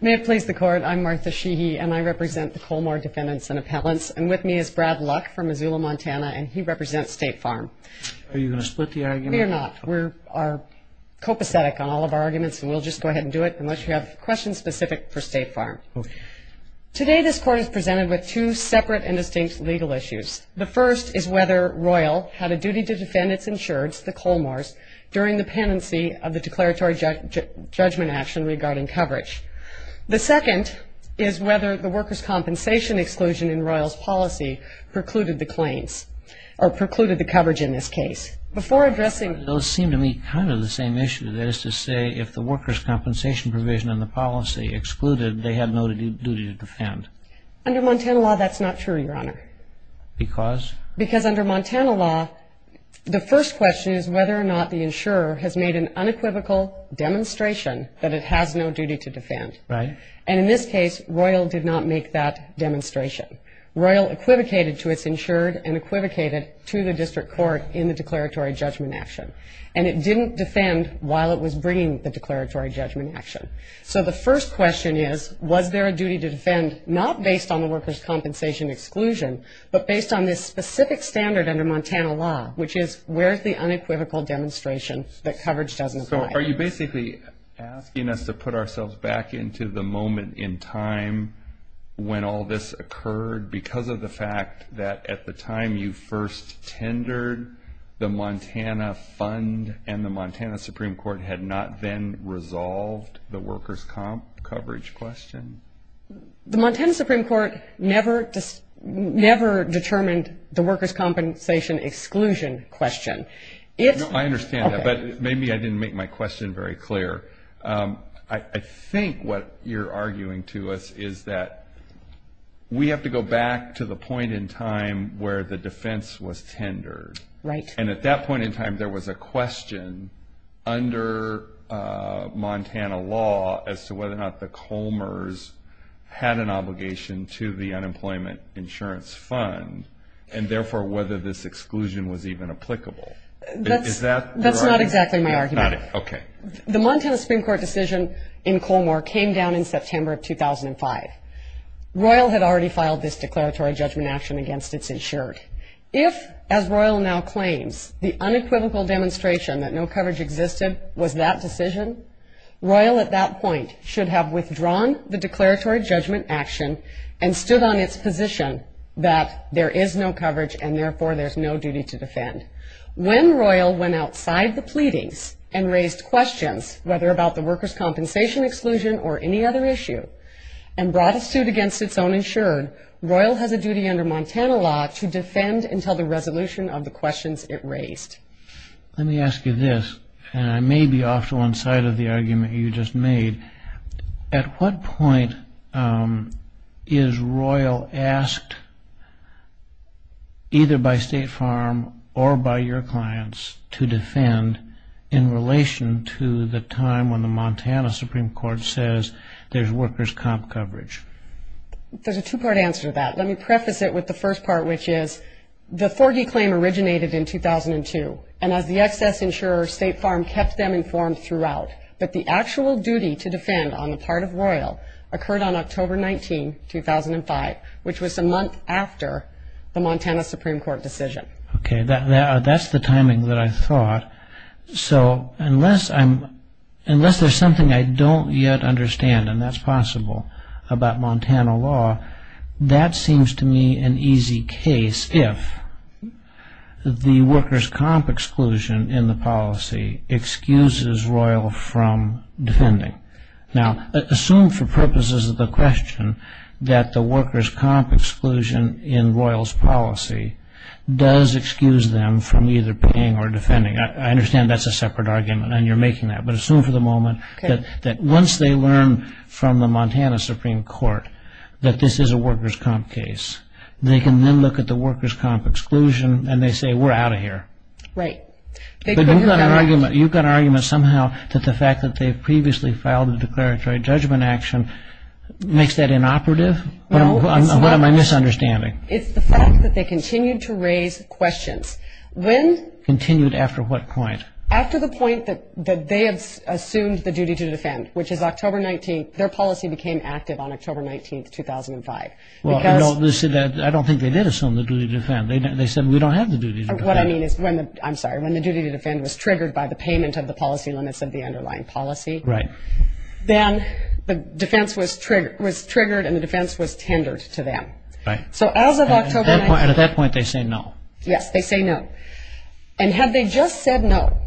May it please the Court, I'm Martha Sheehy and I represent the Colmore Defendants and Appellants and with me is Brad Luck from Missoula, Montana and he represents State Farm. Are you going to split the argument? We are not. We are copacetic on all of our arguments and we'll just go ahead and do it unless you have questions specific for State Farm. Okay. Today this Court is presented with two separate and distinct legal issues. The first is whether Royal had a duty to defend its insureds, the Colmores, during the penancy of the declaratory judgment action regarding coverage. The second is whether the workers' compensation exclusion in Royal's policy precluded the claims or precluded the coverage in this case. Before addressing Those seem to me kind of the same issue. That is to say if the workers' compensation provision in the policy excluded, they had no duty to defend. Under Montana law that's not true, Your Honor. Because? Because under Montana law the first question is whether or not the insurer has made an unequivocal demonstration that it has no duty to defend. Right. And in this case Royal did not make that demonstration. Royal equivocated to its insured and equivocated to the district court in the declaratory judgment action. And it didn't defend while it was bringing the declaratory judgment action. So the first question is was there a duty to defend not based on the workers' compensation exclusion, but based on this specific standard under Montana law, which is where is the unequivocal demonstration that coverage doesn't apply? So are you basically asking us to put ourselves back into the moment in time when all this occurred because of the fact that at the time you first tendered the Montana fund and the Montana Supreme Court had not then resolved the workers' coverage question? The Montana Supreme Court never determined the workers' compensation exclusion question. I understand that, but maybe I didn't make my question very clear. I think what you're arguing to us is that we have to go back to the point in time where the defense was tendered. Right. And at that point in time there was a question under Montana law as to whether or not the Comers had an obligation to the unemployment insurance fund and therefore whether this exclusion was even applicable. That's not exactly my argument. Okay. The Montana Supreme Court decision in Colmore came down in September of 2005. Royal had already filed this declaratory judgment action against its insured. If, as Royal now claims, the unequivocal demonstration that no coverage existed was that decision, Royal at that point should have withdrawn the declaratory judgment action and stood on its position that there is no coverage and therefore there's no duty to defend. When Royal went outside the pleadings and raised questions, whether about the workers' compensation exclusion or any other issue, and brought a suit against its own insured, Royal has a duty under Montana law to defend until the resolution of the questions it raised. Let me ask you this, and I may be off to one side of the argument you just made. At what point is Royal asked, either by State Farm or by your clients, to defend in relation to the time when the Montana Supreme Court says there's workers' comp coverage? There's a two-part answer to that. Let me preface it with the first part, which is the Forgey claim originated in 2002, and as the excess insurer, State Farm kept them informed throughout. But the actual duty to defend on the part of Royal occurred on October 19, 2005, which was a month after the Montana Supreme Court decision. Okay, that's the timing that I thought. So unless there's something I don't yet understand, and that's possible, about Montana law, that seems to me an easy case if the workers' comp exclusion in the policy excuses Royal from defending. Now, assume for purposes of the question that the workers' comp exclusion in Royal's policy does excuse them from either paying or defending. I understand that's a separate argument, and you're making that, but assume for the moment that once they learn from the Montana Supreme Court that this is a workers' comp case, they can then look at the workers' comp exclusion and they say, we're out of here. Right. But you've got an argument somehow that the fact that they've previously filed a declaratory judgment action makes that inoperative? No, it's not. What am I misunderstanding? It's the fact that they continued to raise questions. Continued after what point? After the point that they assumed the duty to defend, which is October 19th. Their policy became active on October 19th, 2005. I don't think they did assume the duty to defend. They said, we don't have the duty to defend. What I mean is, I'm sorry, when the duty to defend was triggered by the payment of the policy limits of the underlying policy, then the defense was triggered and the defense was tendered to them. So as of October 19th. At that point, they say no. Yes, they say no. And had they just said no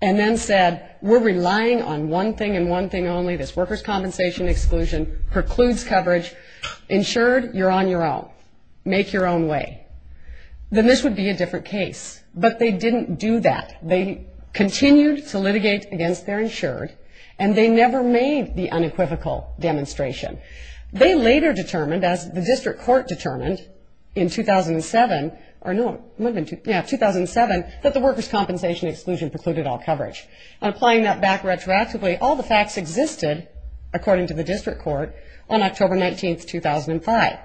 and then said, we're relying on one thing and one thing only, this workers' compensation exclusion precludes coverage, insured, you're on your own. Make your own way. Then this would be a different case. But they didn't do that. They continued to litigate against their insured and they never made the unequivocal demonstration. They later determined, as the district court determined in 2007, that the workers' compensation exclusion precluded all coverage. Applying that back retroactively, all the facts existed, according to the district court, on October 19th, 2005.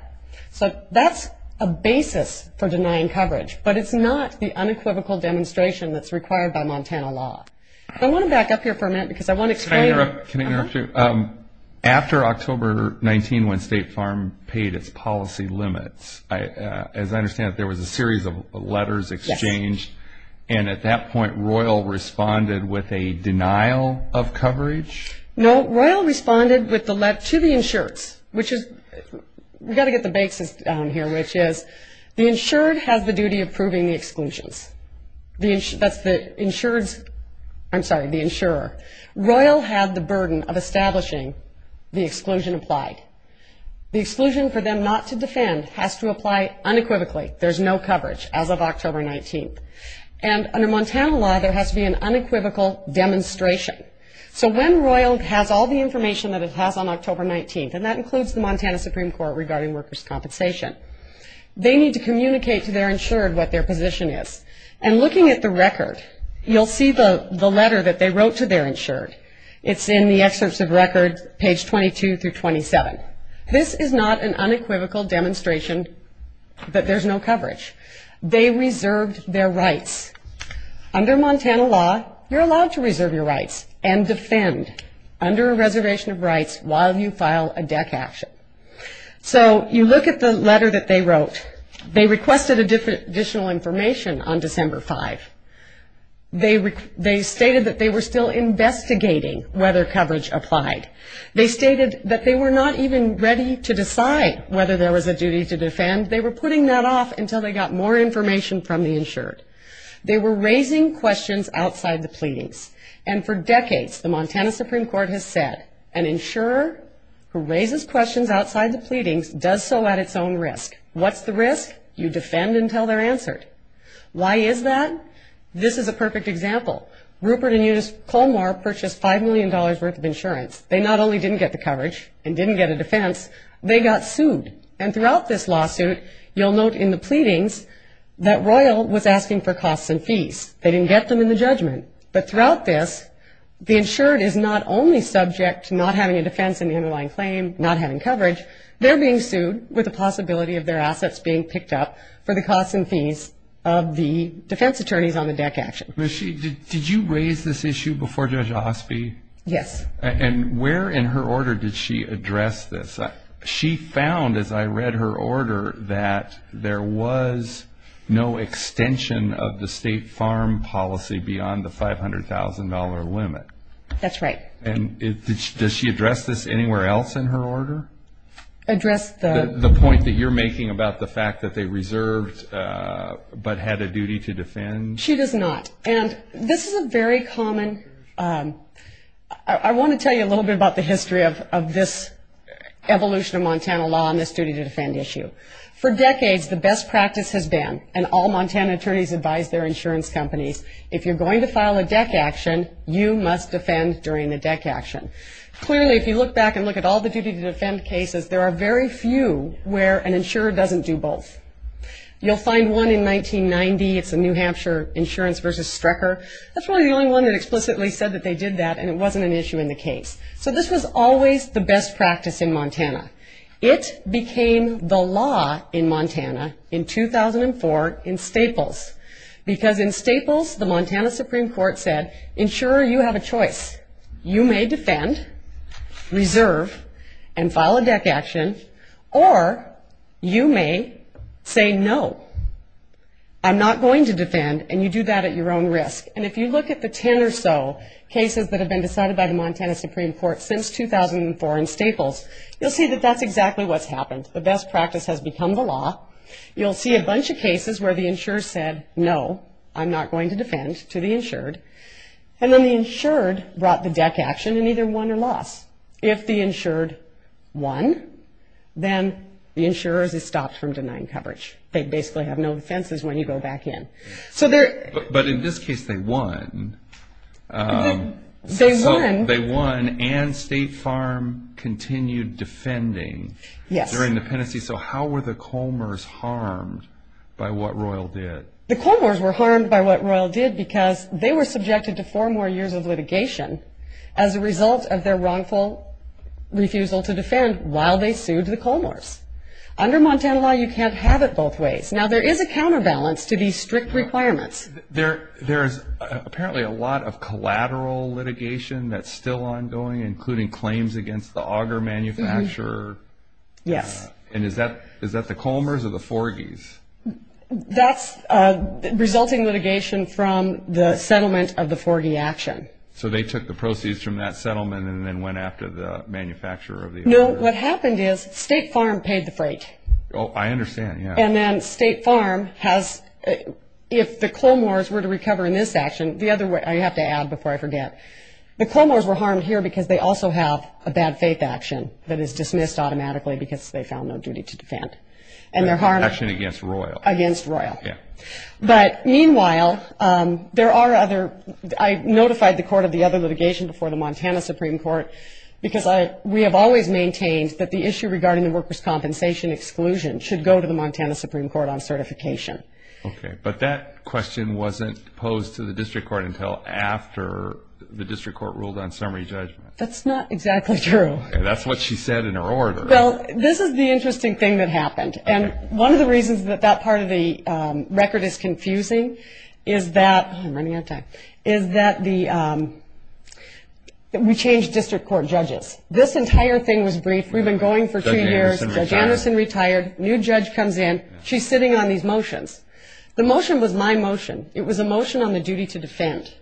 So that's a basis for denying coverage. But it's not the unequivocal demonstration that's required by Montana law. I want to back up here for a minute because I want to explain. Can I interrupt you? After October 19, when State Farm paid its policy limits, as I understand it, there was a series of letters exchanged. And at that point, Royal responded with a denial of coverage? No, Royal responded to the insureds, which is, we've got to get the basis down here, which is the insured has the duty of proving the exclusions. However, Royal had the burden of establishing the exclusion applied. The exclusion for them not to defend has to apply unequivocally. There's no coverage as of October 19th. And under Montana law, there has to be an unequivocal demonstration. So when Royal has all the information that it has on October 19th, and that includes the Montana Supreme Court regarding workers' compensation, they need to communicate to their insured what their position is. And looking at the record, you'll see the letter that they wrote to their insured. It's in the excerpts of record, page 22 through 27. This is not an unequivocal demonstration that there's no coverage. They reserved their rights. Under Montana law, you're allowed to reserve your rights and defend under a reservation of rights while you file a DEC action. So you look at the letter that they wrote. They requested additional information on December 5. They stated that they were still investigating whether coverage applied. They stated that they were not even ready to decide whether there was a duty to defend. They were putting that off until they got more information from the insured. They were raising questions outside the pleadings. And for decades, the Montana Supreme Court has said, an insurer who raises questions outside the pleadings does so at its own risk. What's the risk? You defend until they're answered. Why is that? This is a perfect example. Rupert and Eunice Colmar purchased $5 million worth of insurance. They not only didn't get the coverage and didn't get a defense, they got sued. And throughout this lawsuit, you'll note in the pleadings that Royal was asking for costs and fees. They didn't get them in the judgment. But throughout this, the insured is not only subject to not having a defense and the underlying claim, not having coverage, they're being sued with the possibility of their assets being picked up for the costs and fees of the defense attorneys on the DEC action. Did you raise this issue before Judge Osby? Yes. And where in her order did she address this? She found, as I read her order, that there was no extension of the state farm policy beyond the $500,000 limit. That's right. And does she address this anywhere else in her order? Address the? The point that you're making about the fact that they reserved but had a duty to defend? She does not. And this is a very common. I want to tell you a little bit about the history of this evolution of Montana law on this duty to defend issue. For decades, the best practice has been, and all Montana attorneys advise their insurance companies, if you're going to file a DEC action, you must defend during the DEC action. Clearly, if you look back and look at all the duty to defend cases, there are very few where an insurer doesn't do both. You'll find one in 1990. It's a New Hampshire insurance versus Strecker. That's really the only one that explicitly said that they did that So this was always the best practice in Montana. It became the law in Montana in 2004 in Staples. Because in Staples, the Montana Supreme Court said, Insurer, you have a choice. You may defend, reserve, and file a DEC action, or you may say no. I'm not going to defend, and you do that at your own risk. And if you look at the ten or so cases that have been decided by the Montana Supreme Court since 2004 in Staples, you'll see that that's exactly what's happened. The best practice has become the law. You'll see a bunch of cases where the insurer said, No, I'm not going to defend, to the insured. And then the insured brought the DEC action, and either won or lost. If the insured won, then the insurer is stopped from denying coverage. They basically have no defenses when you go back in. But in this case, they won. They won. They won, and State Farm continued defending their independency. So how were the Colmores harmed by what Royal did? The Colmores were harmed by what Royal did because they were subjected to four more years of litigation as a result of their wrongful refusal to defend while they sued the Colmores. Under Montana law, you can't have it both ways. Now, there is a counterbalance to these strict requirements. There's apparently a lot of collateral litigation that's still ongoing, including claims against the auger manufacturer. Yes. And is that the Colmores or the Forgys? That's resulting litigation from the settlement of the Forgy action. So they took the proceeds from that settlement and then went after the manufacturer of the auger? No, what happened is State Farm paid the freight. Oh, I understand, yeah. And then State Farm has, if the Colmores were to recover in this action, the other way, I have to add before I forget, the Colmores were harmed here because they also have a bad faith action that is dismissed automatically because they found no duty to defend. An action against Royal. Against Royal. Yeah. But meanwhile, there are other, I notified the court of the other litigation before the Montana Supreme Court because we have always maintained that the issue regarding the workers' compensation exclusion should go to the Montana Supreme Court on certification. Okay. But that question wasn't posed to the district court until after the district court ruled on summary judgment. That's not exactly true. That's what she said in her order. Well, this is the interesting thing that happened. And one of the reasons that that part of the record is confusing is that, I'm running out of time, is that we changed district court judges. This entire thing was brief. We've been going for three years. Judge Anderson retired. New judge comes in. She's sitting on these motions. The motion was my motion. It was a motion on the duty to defend.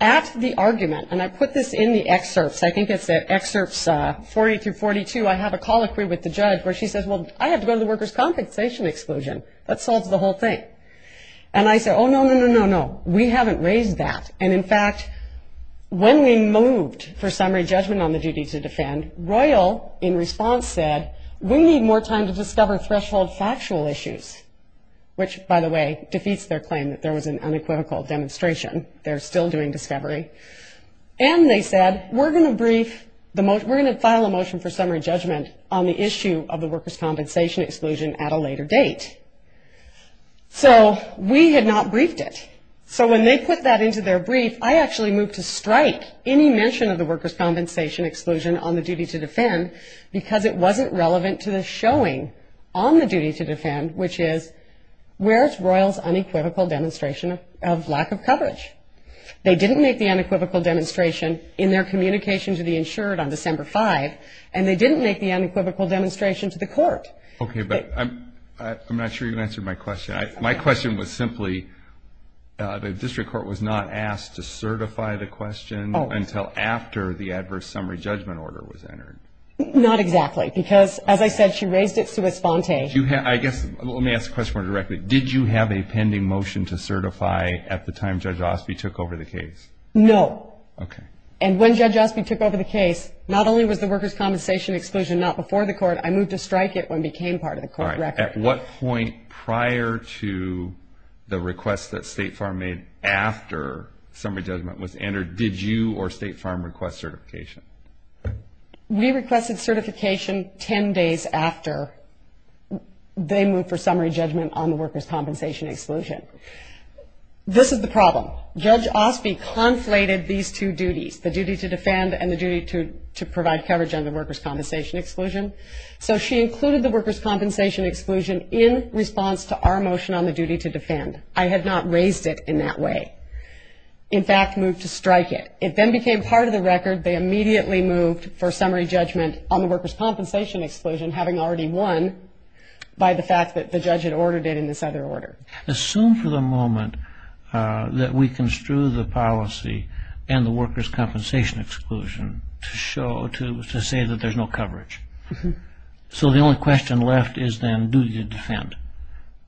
At the argument, and I put this in the excerpts, I think it's at excerpts 40 through 42, I have a colloquy with the judge where she says, well, I have to go to the workers' compensation exclusion. That solves the whole thing. And I said, oh, no, no, no, no, no. We haven't raised that. And, in fact, when we moved for summary judgment on the duty to defend, Royal, in response, said, we need more time to discover threshold factual issues, which, by the way, defeats their claim that there was an unequivocal demonstration. They're still doing discovery. And they said, we're going to file a motion for summary judgment on the issue of the workers' compensation exclusion at a later date. So we had not briefed it. So when they put that into their brief, I actually moved to strike any mention of the workers' compensation exclusion on the duty to defend because it wasn't relevant to the showing on the duty to defend, which is where's Royal's unequivocal demonstration of lack of coverage. They didn't make the unequivocal demonstration in their communication to the insured on December 5, and they didn't make the unequivocal demonstration to the court. Okay. But I'm not sure you answered my question. My question was simply, the district court was not asked to certify the question until after the adverse summary judgment order was entered. Not exactly because, as I said, she raised it sui sponte. I guess let me ask the question more directly. Did you have a pending motion to certify at the time Judge Osby took over the case? No. Okay. And when Judge Osby took over the case, not only was the workers' compensation exclusion not before the court, I moved to strike it when it became part of the court record. All right. At what point prior to the request that State Farm made after summary judgment was entered did you or State Farm request certification? We requested certification 10 days after they moved for summary judgment on the workers' compensation exclusion. This is the problem. Judge Osby conflated these two duties, the duty to defend and the duty to provide coverage on the workers' compensation exclusion. So she included the workers' compensation exclusion in response to our motion on the duty to defend. I had not raised it in that way. In fact, moved to strike it. It then became part of the record. They immediately moved for summary judgment on the workers' compensation exclusion, having already won by the fact that the judge had ordered it in this other order. Assume for the moment that we construe the policy and the workers' compensation exclusion to show, to say that there's no coverage. So the only question left is then duty to defend.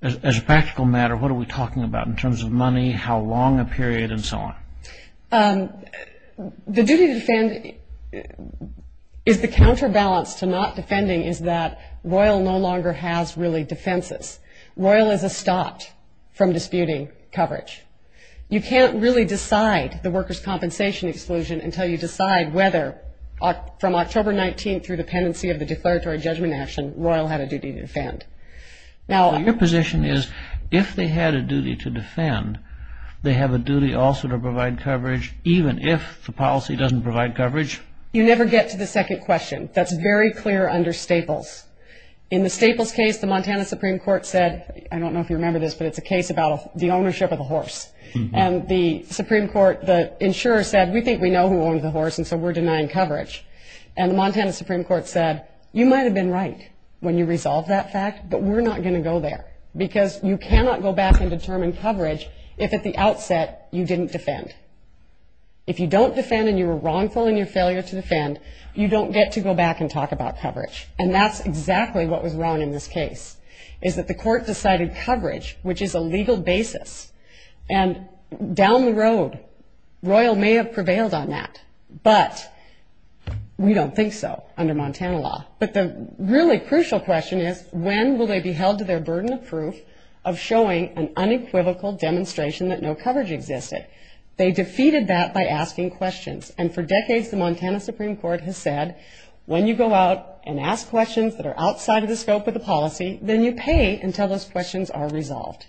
As a practical matter, what are we talking about in terms of money, how long a period, and so on? The duty to defend is the counterbalance to not defending is that Royal no longer has really defenses. Royal is a stop from disputing coverage. You can't really decide the workers' compensation exclusion until you decide whether from October 19th through the pendency of the declaratory judgment action, Your position is if they had a duty to defend, they have a duty also to provide coverage, even if the policy doesn't provide coverage? You never get to the second question. That's very clear under Staples. In the Staples case, the Montana Supreme Court said, I don't know if you remember this, but it's a case about the ownership of the horse. And the Supreme Court, the insurer said, we think we know who owned the horse, and so we're denying coverage. And the Montana Supreme Court said, you might have been right when you resolved that fact, but we're not going to go there because you cannot go back and determine coverage if at the outset you didn't defend. If you don't defend and you were wrongful in your failure to defend, you don't get to go back and talk about coverage. And that's exactly what was wrong in this case, is that the court decided coverage, which is a legal basis. And down the road, Royal may have prevailed on that, but we don't think so under Montana law. But the really crucial question is, when will they be held to their burden of proof of showing an unequivocal demonstration that no coverage existed? They defeated that by asking questions. And for decades, the Montana Supreme Court has said, when you go out and ask questions that are outside of the scope of the policy, then you pay until those questions are resolved.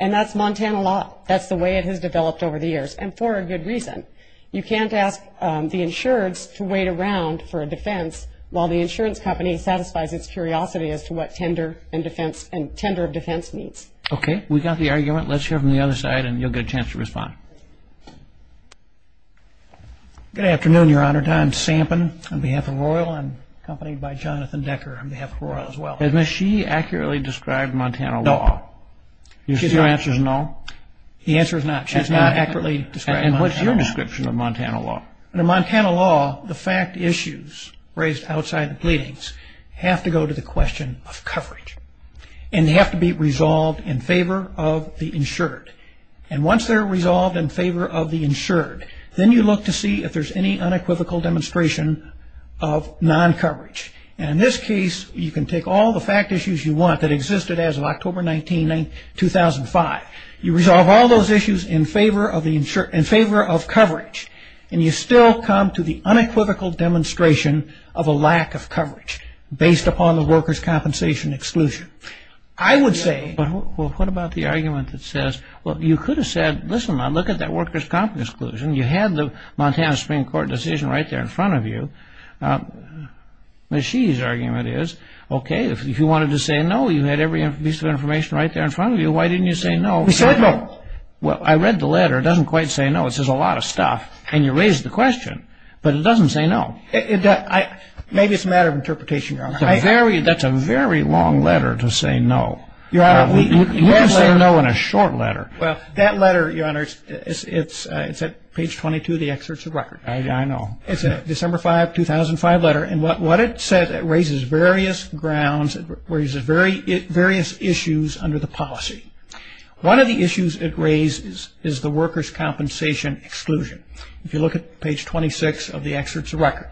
And that's Montana law. That's the way it has developed over the years, and for a good reason. You can't ask the insureds to wait around for a defense while the insurance company satisfies its curiosity as to what tender of defense means. Okay. We got the argument. Let's hear it from the other side, and you'll get a chance to respond. Good afternoon, Your Honor. I'm Sampen on behalf of Royal and accompanied by Jonathan Decker on behalf of Royal as well. Has she accurately described Montana law? No. Your answer is no? The answer is not. She has not accurately described Montana law. And what's your description of Montana law? In Montana law, the fact issues raised outside the pleadings have to go to the question of coverage. And they have to be resolved in favor of the insured. And once they're resolved in favor of the insured, then you look to see if there's any unequivocal demonstration of non-coverage. And in this case, you can take all the fact issues you want that existed as of October 19, 2005. You resolve all those issues in favor of coverage, and you still come to the unequivocal demonstration of a lack of coverage based upon the workers' compensation exclusion. I would say what about the argument that says, well, you could have said, listen, look at that workers' compensation exclusion. You had the Montana Supreme Court decision right there in front of you. She's argument is, okay, if you wanted to say no, you had every piece of information right there in front of you. Why didn't you say no? We said no. Well, I read the letter. It doesn't quite say no. It says a lot of stuff. And you raised the question, but it doesn't say no. Maybe it's a matter of interpretation, Your Honor. That's a very long letter to say no. You can say no in a short letter. Well, that letter, Your Honor, it's at page 22 of the excerpts of record. I know. It's a December 5, 2005 letter. It raises various issues under the policy. One of the issues it raises is the workers' compensation exclusion. If you look at page 26 of the excerpts of record,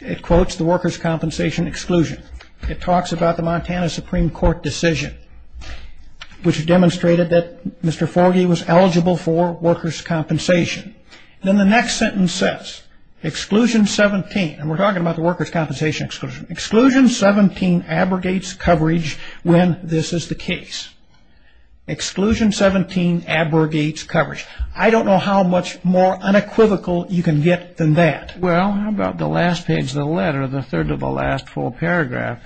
it quotes the workers' compensation exclusion. It talks about the Montana Supreme Court decision, which demonstrated that Mr. Forgey was eligible for workers' compensation. Then the next sentence says, exclusion 17. And we're talking about the workers' compensation exclusion. Exclusion 17 abrogates coverage when this is the case. Exclusion 17 abrogates coverage. I don't know how much more unequivocal you can get than that. Well, how about the last page of the letter, the third to the last full paragraph?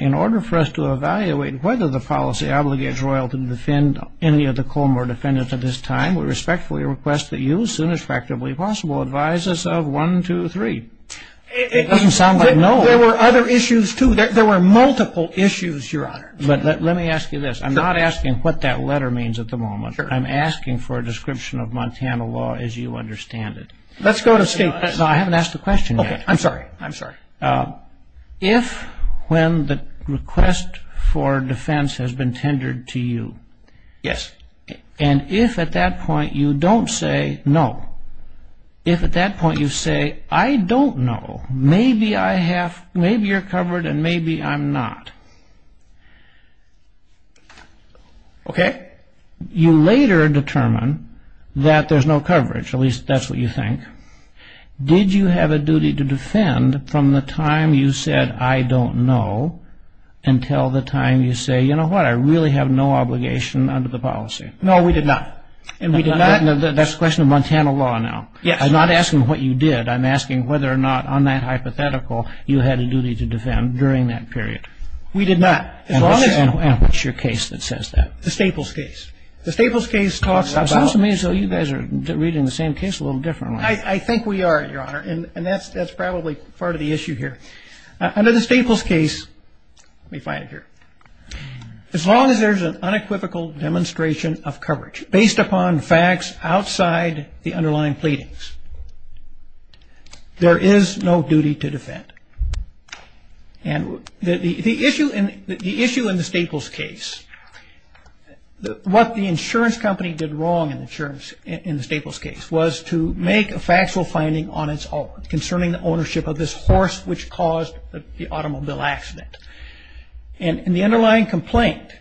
In order for us to evaluate whether the policy obligates royalty to defend any of the Coleman defendants at this time, we respectfully request that you, as soon as factually possible, advise us of 1, 2, 3. It doesn't sound like no. There were other issues, too. There were multiple issues, Your Honor. Let me ask you this. I'm not asking what that letter means at the moment. I'm asking for a description of Montana law as you understand it. Let's go to statement. No, I haven't asked the question yet. Okay. I'm sorry. I'm sorry. If when the request for defense has been tendered to you. Yes. And if at that point you don't say no. If at that point you say, I don't know. Maybe I have, maybe you're covered and maybe I'm not. Okay. You later determine that there's no coverage. At least that's what you think. Did you have a duty to defend from the time you said, I don't know, until the time you say, you know what? I really have no obligation under the policy. No, we did not. And we did not. That's a question of Montana law now. Yes. I'm not asking what you did. I'm asking whether or not on that hypothetical you had a duty to defend during that period. We did not. And what's your case that says that? The Staples case. The Staples case talks about. It seems to me as though you guys are reading the same case a little differently. I think we are, Your Honor. And that's probably part of the issue here. Under the Staples case, let me find it here. As long as there's an unequivocal demonstration of coverage based upon facts outside the underlying pleadings, there is no duty to defend. And the issue in the Staples case, what the insurance company did wrong in the Staples case was to make a factual finding on its own concerning the ownership of this horse which caused the automobile accident. And in the underlying complaint,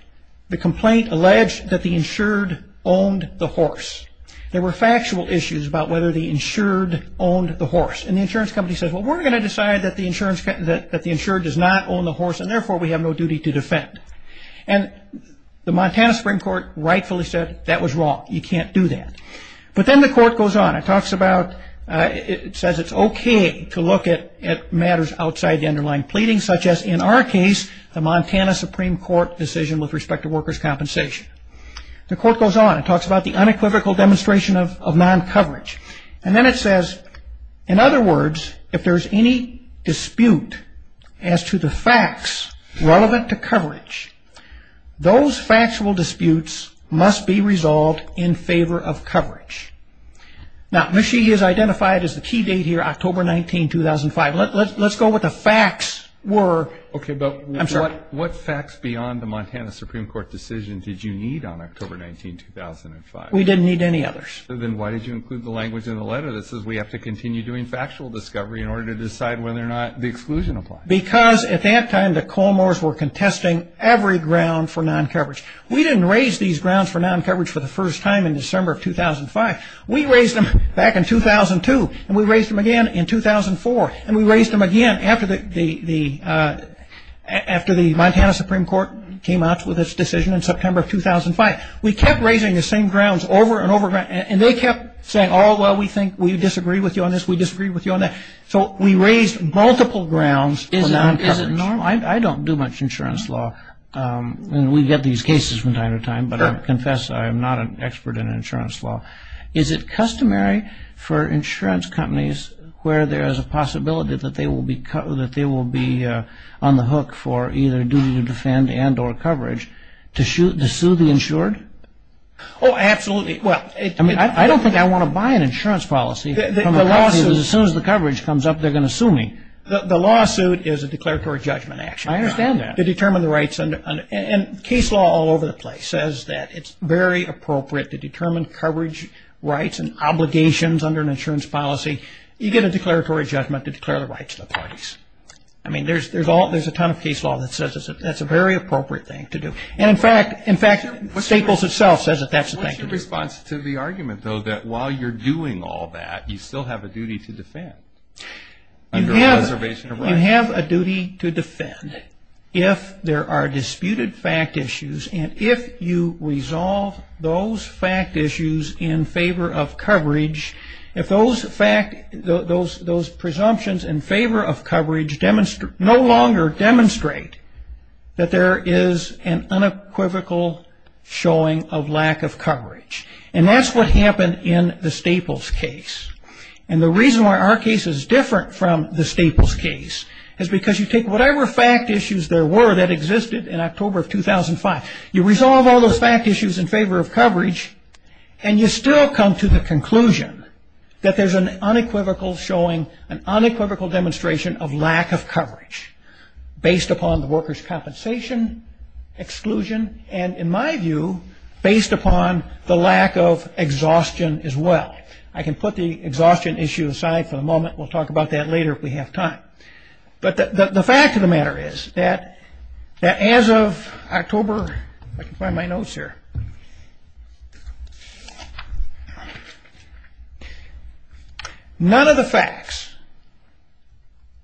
the complaint alleged that the insured owned the horse. There were factual issues about whether the insured owned the horse. And the insurance company said, well, we're going to decide that the insured does not own the horse and therefore we have no duty to defend. And the Montana Supreme Court rightfully said that was wrong. You can't do that. But then the court goes on. It says it's okay to look at matters outside the underlying pleadings such as, in our case, the Montana Supreme Court decision with respect to workers' compensation. The court goes on. It talks about the unequivocal demonstration of non-coverage. And then it says, in other words, if there's any dispute as to the facts relevant to coverage, those factual disputes must be resolved in favor of coverage. Now, Michie has identified as the key date here October 19, 2005. Let's go what the facts were. Okay, but what facts beyond the Montana Supreme Court decision did you need on October 19, 2005? We didn't need any others. Then why did you include the language in the letter that says we have to continue doing factual discovery in order to decide whether or not the exclusion applies? Because at that time the Colmores were contesting every ground for non-coverage. We didn't raise these grounds for non-coverage for the first time in December of 2005. We raised them back in 2002. And we raised them again in 2004. And we raised them again after the Montana Supreme Court came out with its decision in September of 2005. We kept raising the same grounds over and over again. And they kept saying, oh, well, we think we disagree with you on this. We disagree with you on that. So we raised multiple grounds for non-coverage. Is it normal? I don't do much insurance law. We get these cases from time to time. But I confess I am not an expert in insurance law. Is it customary for insurance companies where there is a possibility that they will be on the hook for either duty to defend and or coverage to sue the insured? Oh, absolutely. I don't think I want to buy an insurance policy. As soon as the coverage comes up, they're going to sue me. The lawsuit is a declaratory judgment action. I understand that. To determine the rights. And case law all over the place says that it's very appropriate to determine coverage rights and obligations under an insurance policy. You get a declaratory judgment to declare the rights of the parties. I mean, there's a ton of case law that says that's a very appropriate thing to do. And, in fact, Staples itself says that that's the thing to do. What's your response to the argument, though, that while you're doing all that, you still have a duty to defend? You have a duty to defend if there are disputed fact issues. And if you resolve those fact issues in favor of coverage, if those presumptions in favor of coverage no longer demonstrate that there is an unequivocal showing of lack of coverage, and that's what happened in the Staples case. And the reason why our case is different from the Staples case is because you take whatever fact issues there were that existed in October of 2005, you resolve all those fact issues in favor of coverage, and you still come to the conclusion that there's an unequivocal showing, an unequivocal demonstration of lack of coverage based upon the worker's compensation, exclusion, and, in my view, based upon the lack of exhaustion as well. I can put the exhaustion issue aside for the moment. We'll talk about that later if we have time. But the fact of the matter is that as of October, if I can find my notes here, none of the facts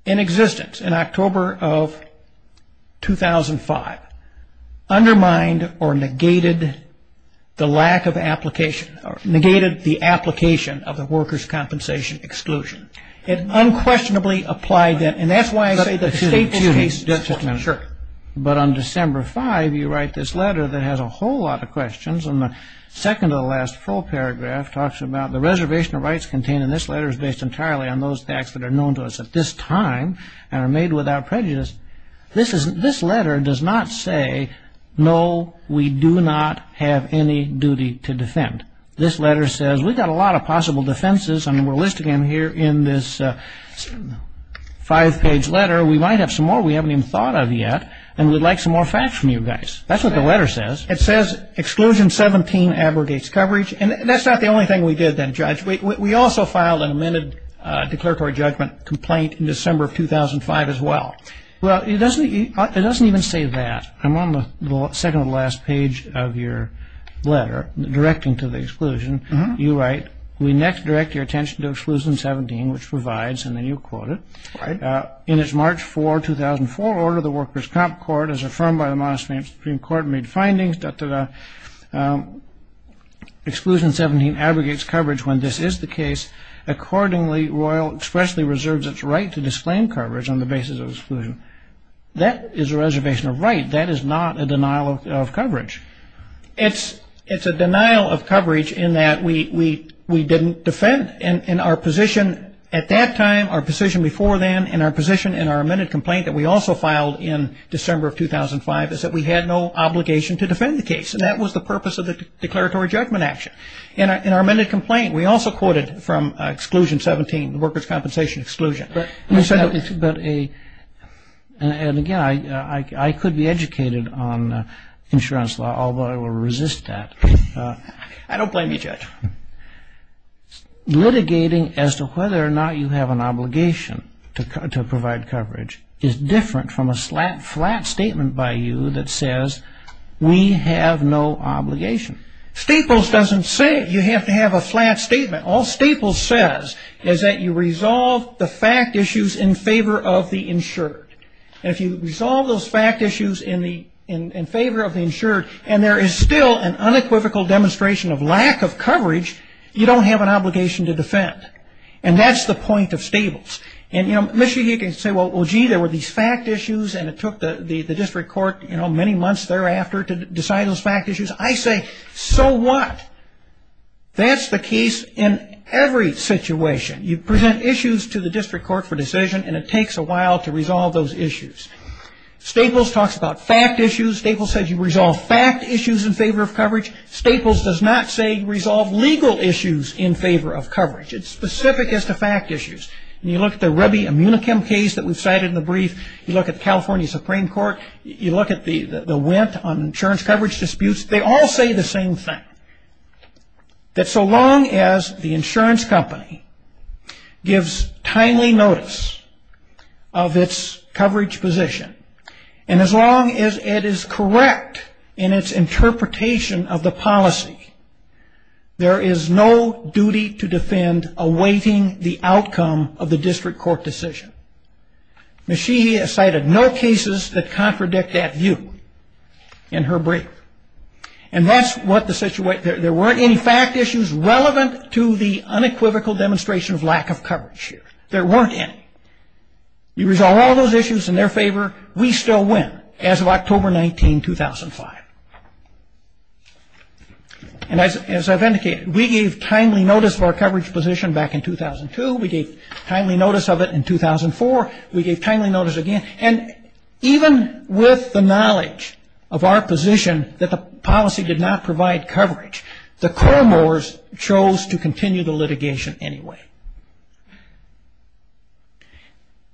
in existence in October of 2005 undermined or negated the lack of application, or negated the application of the worker's compensation exclusion. It unquestionably applied then, and that's why I say that the State's case is different. But on December 5, you write this letter that has a whole lot of questions, and the second to the last full paragraph talks about the reservation of rights contained in this letter is based entirely on those facts that are known to us at this time and are made without prejudice. This letter does not say, no, we do not have any duty to defend. This letter says we've got a lot of possible defenses, and we're listing them here in this five-page letter. We might have some more we haven't even thought of yet, and we'd like some more facts from you guys. That's what the letter says. It says exclusion 17 abrogates coverage, and that's not the only thing we did then, Judge. We also filed an amended declaratory judgment complaint in December of 2005 as well. Well, it doesn't even say that. I'm on the second to the last page of your letter directing to the exclusion. You write, we next direct your attention to exclusion 17, which provides, and then you quote it, in its March 4, 2004 order, the Workers' Comp Court, as affirmed by the Montesquieu Supreme Court, made findings, exclusion 17 abrogates coverage when this is the case. Accordingly, Royal expressly reserves its right to disclaim coverage on the basis of exclusion. That is a reservation of right. That is not a denial of coverage. It's a denial of coverage in that we didn't defend. And our position at that time, our position before then, and our position in our amended complaint that we also filed in December of 2005 is that we had no obligation to defend the case, and that was the purpose of the declaratory judgment action. In our amended complaint, we also quoted from exclusion 17, the Workers' Compensation exclusion. And again, I could be educated on insurance law, although I will resist that. I don't blame you, Judge. Litigating as to whether or not you have an obligation to provide coverage is different from a flat statement by you that says we have no obligation. Staples doesn't say you have to have a flat statement. All Staples says is that you resolve the fact issues in favor of the insured. And if you resolve those fact issues in favor of the insured, and there is still an unequivocal demonstration of lack of coverage, you don't have an obligation to defend. And that's the point of Staples. And, you know, Michigan can say, well, gee, there were these fact issues, and it took the district court, you know, many months thereafter to decide those fact issues. I say, so what? That's the case in every situation. You present issues to the district court for decision, and it takes a while to resolve those issues. Staples talks about fact issues. Staples says you resolve fact issues in favor of coverage. Staples does not say resolve legal issues in favor of coverage. It's specific as to fact issues. And you look at the Ruby Immunichem case that we've cited in the brief. You look at the California Supreme Court. You look at the wint on insurance coverage disputes. They all say the same thing, that so long as the insurance company gives timely notice of its coverage position, and as long as it is correct in its interpretation of the policy, there is no duty to defend awaiting the outcome of the district court decision. Ms. Sheehy has cited no cases that contradict that view in her brief. And that's what the situation ñ there weren't any fact issues relevant to the unequivocal demonstration of lack of coverage here. There weren't any. You resolve all those issues in their favor, we still win as of October 19, 2005. And as I've indicated, we gave timely notice of our coverage position back in 2002. We gave timely notice of it in 2004. We gave timely notice again. And even with the knowledge of our position that the policy did not provide coverage, the Cormore's chose to continue the litigation anyway.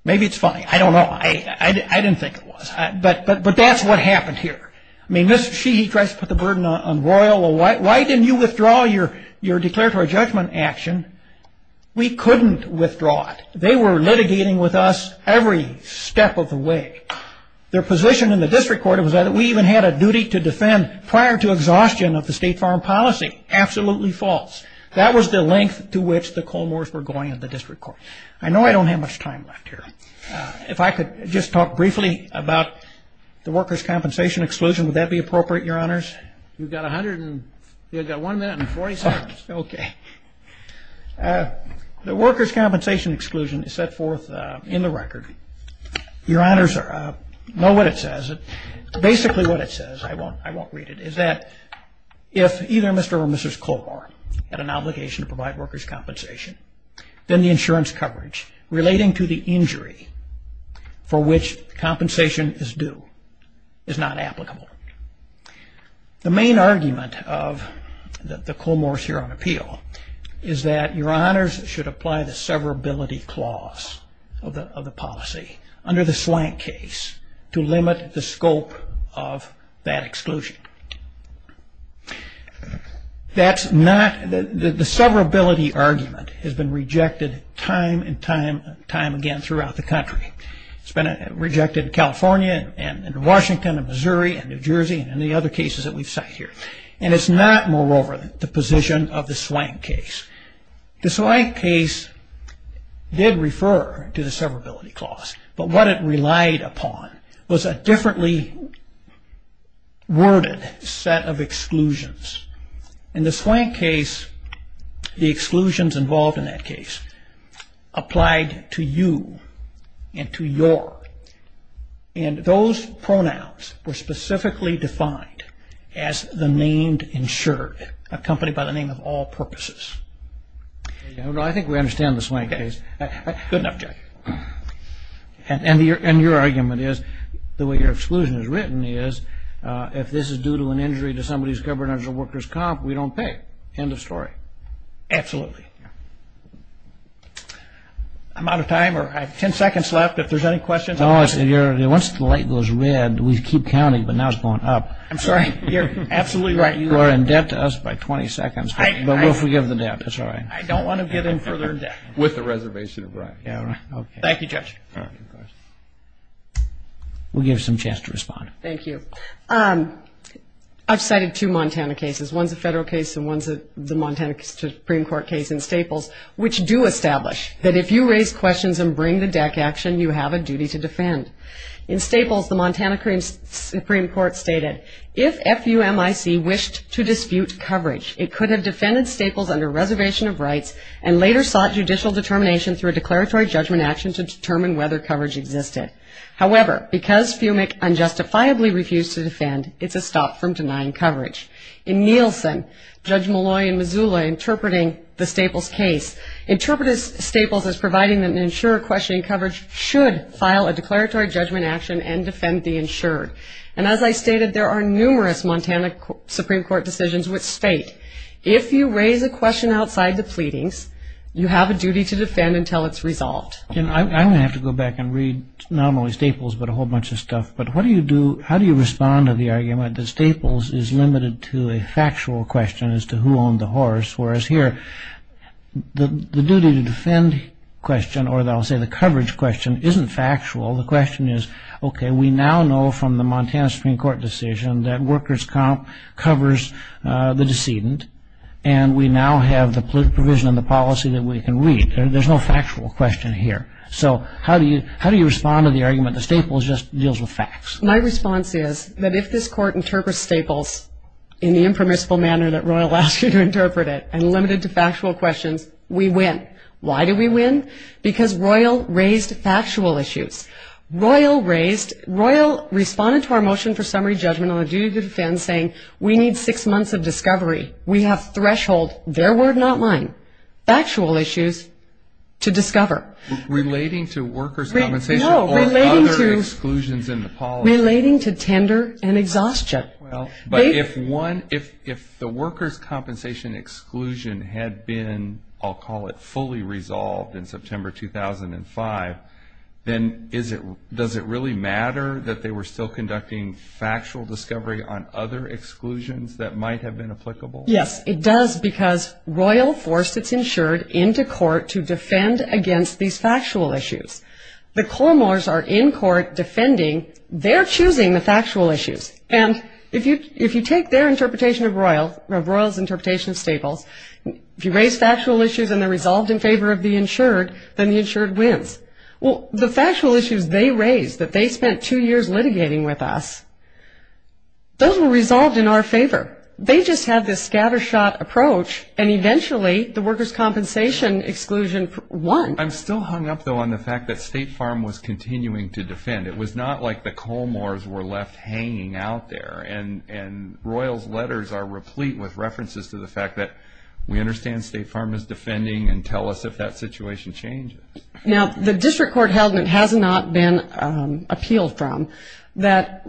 Maybe it's funny. I don't know. I didn't think it was. But that's what happened here. I mean, Ms. Sheehy tries to put the burden on Royal. Why didn't you withdraw your declaratory judgment action? We couldn't withdraw it. They were litigating with us every step of the way. Their position in the district court was that we even had a duty to defend prior to exhaustion of the state foreign policy. Absolutely false. That was the length to which the Cormore's were going in the district court. I know I don't have much time left here. If I could just talk briefly about the workers' compensation exclusion, would that be appropriate, Your Honors? You've got one minute and 40 seconds. Okay. The workers' compensation exclusion is set forth in the record. Your Honors, know what it says. Basically what it says, I won't read it, is that if either Mr. or Mrs. Cormore had an obligation to provide workers' compensation, then the insurance coverage relating to the injury for which compensation is due is not applicable. The main argument of the Cormore's here on appeal is that Your Honors should apply the severability clause of the policy under the slant case to limit the scope of that exclusion. The severability argument has been rejected time and time again throughout the country. It's been rejected in California and in Washington and Missouri and New Jersey and in the other cases that we've cited here. And it's not, moreover, the position of the slant case. The slant case did refer to the severability clause, but what it relied upon was a differently worded set of exclusions. In the slant case, the exclusions involved in that case applied to you and to your. And those pronouns were specifically defined as the named insured, accompanied by the name of all purposes. I think we understand the slant case. Good enough, Jack. And your argument is, the way your exclusion is written is, if this is due to an injury to somebody who's covered under a worker's comp, we don't pay. End of story. Absolutely. I'm out of time. I have 10 seconds left if there's any questions. Once the light goes red, we keep counting, but now it's going up. I'm sorry. You're absolutely right. You are in debt to us by 20 seconds, but we'll forgive the debt. I don't want to get in further debt. With the reservation of right. Thank you, Judge. We'll give you some chance to respond. Thank you. I've cited two Montana cases. One's a federal case and one's the Montana Supreme Court case in Staples, which do establish that if you raise questions and bring the deck action, you have a duty to defend. In Staples, the Montana Supreme Court stated, if FUMIC wished to dispute coverage, it could have defended Staples under reservation of rights and later sought judicial determination through a declaratory judgment action to determine whether coverage existed. However, because FUMIC unjustifiably refused to defend, it's a stop from denying coverage. In Nielsen, Judge Malloy in Missoula interpreting the Staples case, interpreted Staples as providing that an insurer questioning coverage should file a declaratory judgment action and defend the insured. And as I stated, there are numerous Montana Supreme Court decisions which state, if you raise a question outside the pleadings, you have a duty to defend until it's resolved. I'm going to have to go back and read not only Staples but a whole bunch of stuff. But how do you respond to the argument that Staples is limited to a factual question as to who owned the horse, whereas here the duty to defend question, or I'll say the coverage question, isn't factual. The question is, okay, we now know from the Montana Supreme Court decision that workers' comp covers the decedent, and we now have the provision in the policy that we can read. There's no factual question here. So how do you respond to the argument that Staples just deals with facts? My response is that if this Court interprets Staples in the impermissible manner that Royal asked you to interpret it and limited to factual questions, we win. Why do we win? Because Royal raised factual issues. Royal responded to our motion for summary judgment on the duty to defend saying we need six months of discovery. We have threshold. Their word, not mine. Factual issues to discover. Relating to workers' compensation or other exclusions in the policy. Relating to tender and exhaustion. But if the workers' compensation exclusion had been, I'll call it, fully resolved in September 2005, then does it really matter that they were still conducting factual discovery on other exclusions that might have been applicable? Yes, it does, because Royal forced its insured into court to defend against these factual issues. The Cormors are in court defending. They're choosing the factual issues. And if you take their interpretation of Royal's interpretation of Staples, if you raise factual issues and they're resolved in favor of the insured, then the insured wins. Well, the factual issues they raised that they spent two years litigating with us, those were resolved in our favor. They just had this scattershot approach, and eventually the workers' compensation exclusion won. I'm still hung up, though, on the fact that State Farm was continuing to defend. It was not like the Cormors were left hanging out there. And Royal's letters are replete with references to the fact that we understand State Farm is defending and tell us if that situation changes. Now, the district court held, and it has not been appealed from, that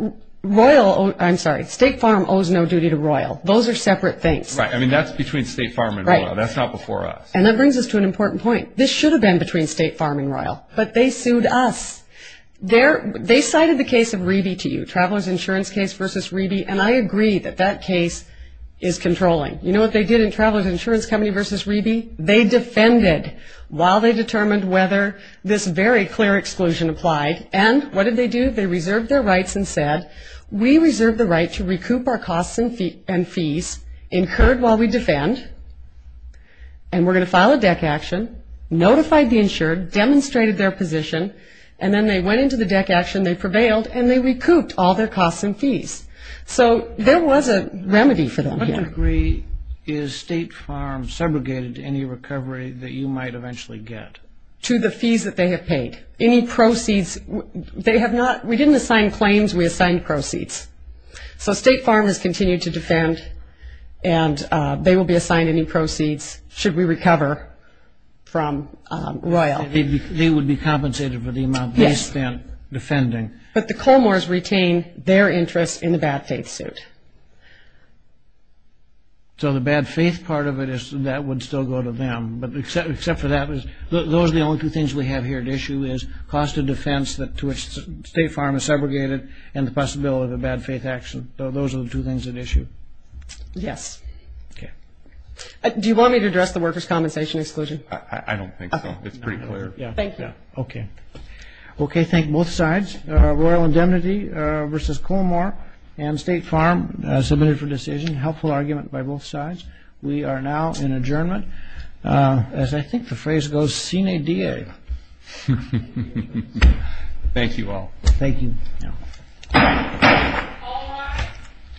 State Farm owes no duty to Royal. Those are separate things. Right. I mean, that's between State Farm and Royal. Right. That's not before us. And that brings us to an important point. This should have been between State Farm and Royal, but they sued us. They cited the case of Reby to you, Traveler's Insurance case versus Reby, and I agree that that case is controlling. You know what they did in Traveler's Insurance Company versus Reby? They defended while they determined whether this very clear exclusion applied, and what did they do? They reserved their rights and said, we reserve the right to recoup our costs and fees incurred while we defend, and we're going to file a DEC action, notified the insured, demonstrated their position, and then they went into the DEC action, they prevailed, and they recouped all their costs and fees. So there was a remedy for them here. To what degree is State Farm segregated to any recovery that you might eventually get? To the fees that they have paid. Any proceeds, they have not, we didn't assign claims, we assigned proceeds. So State Farm has continued to defend, and they will be assigned any proceeds should we recover from Royal. They would be compensated for the amount they spent defending. But the Colmores retain their interest in the bad faith suit. So the bad faith part of it is that would still go to them, but except for that, those are the only two things we have here at issue is cost of defense to which State Farm is segregated and the possibility of a bad faith action. Those are the two things at issue. Yes. Okay. Do you want me to address the workers' compensation exclusion? I don't think so. It's pretty clear. Thank you. Okay. Thank you. Okay. Thank both sides. Royal indemnity versus Colmore and State Farm submitted for decision. Helpful argument by both sides. We are now in adjournment. As I think the phrase goes, sine die. Thank you all. Thank you. All rise.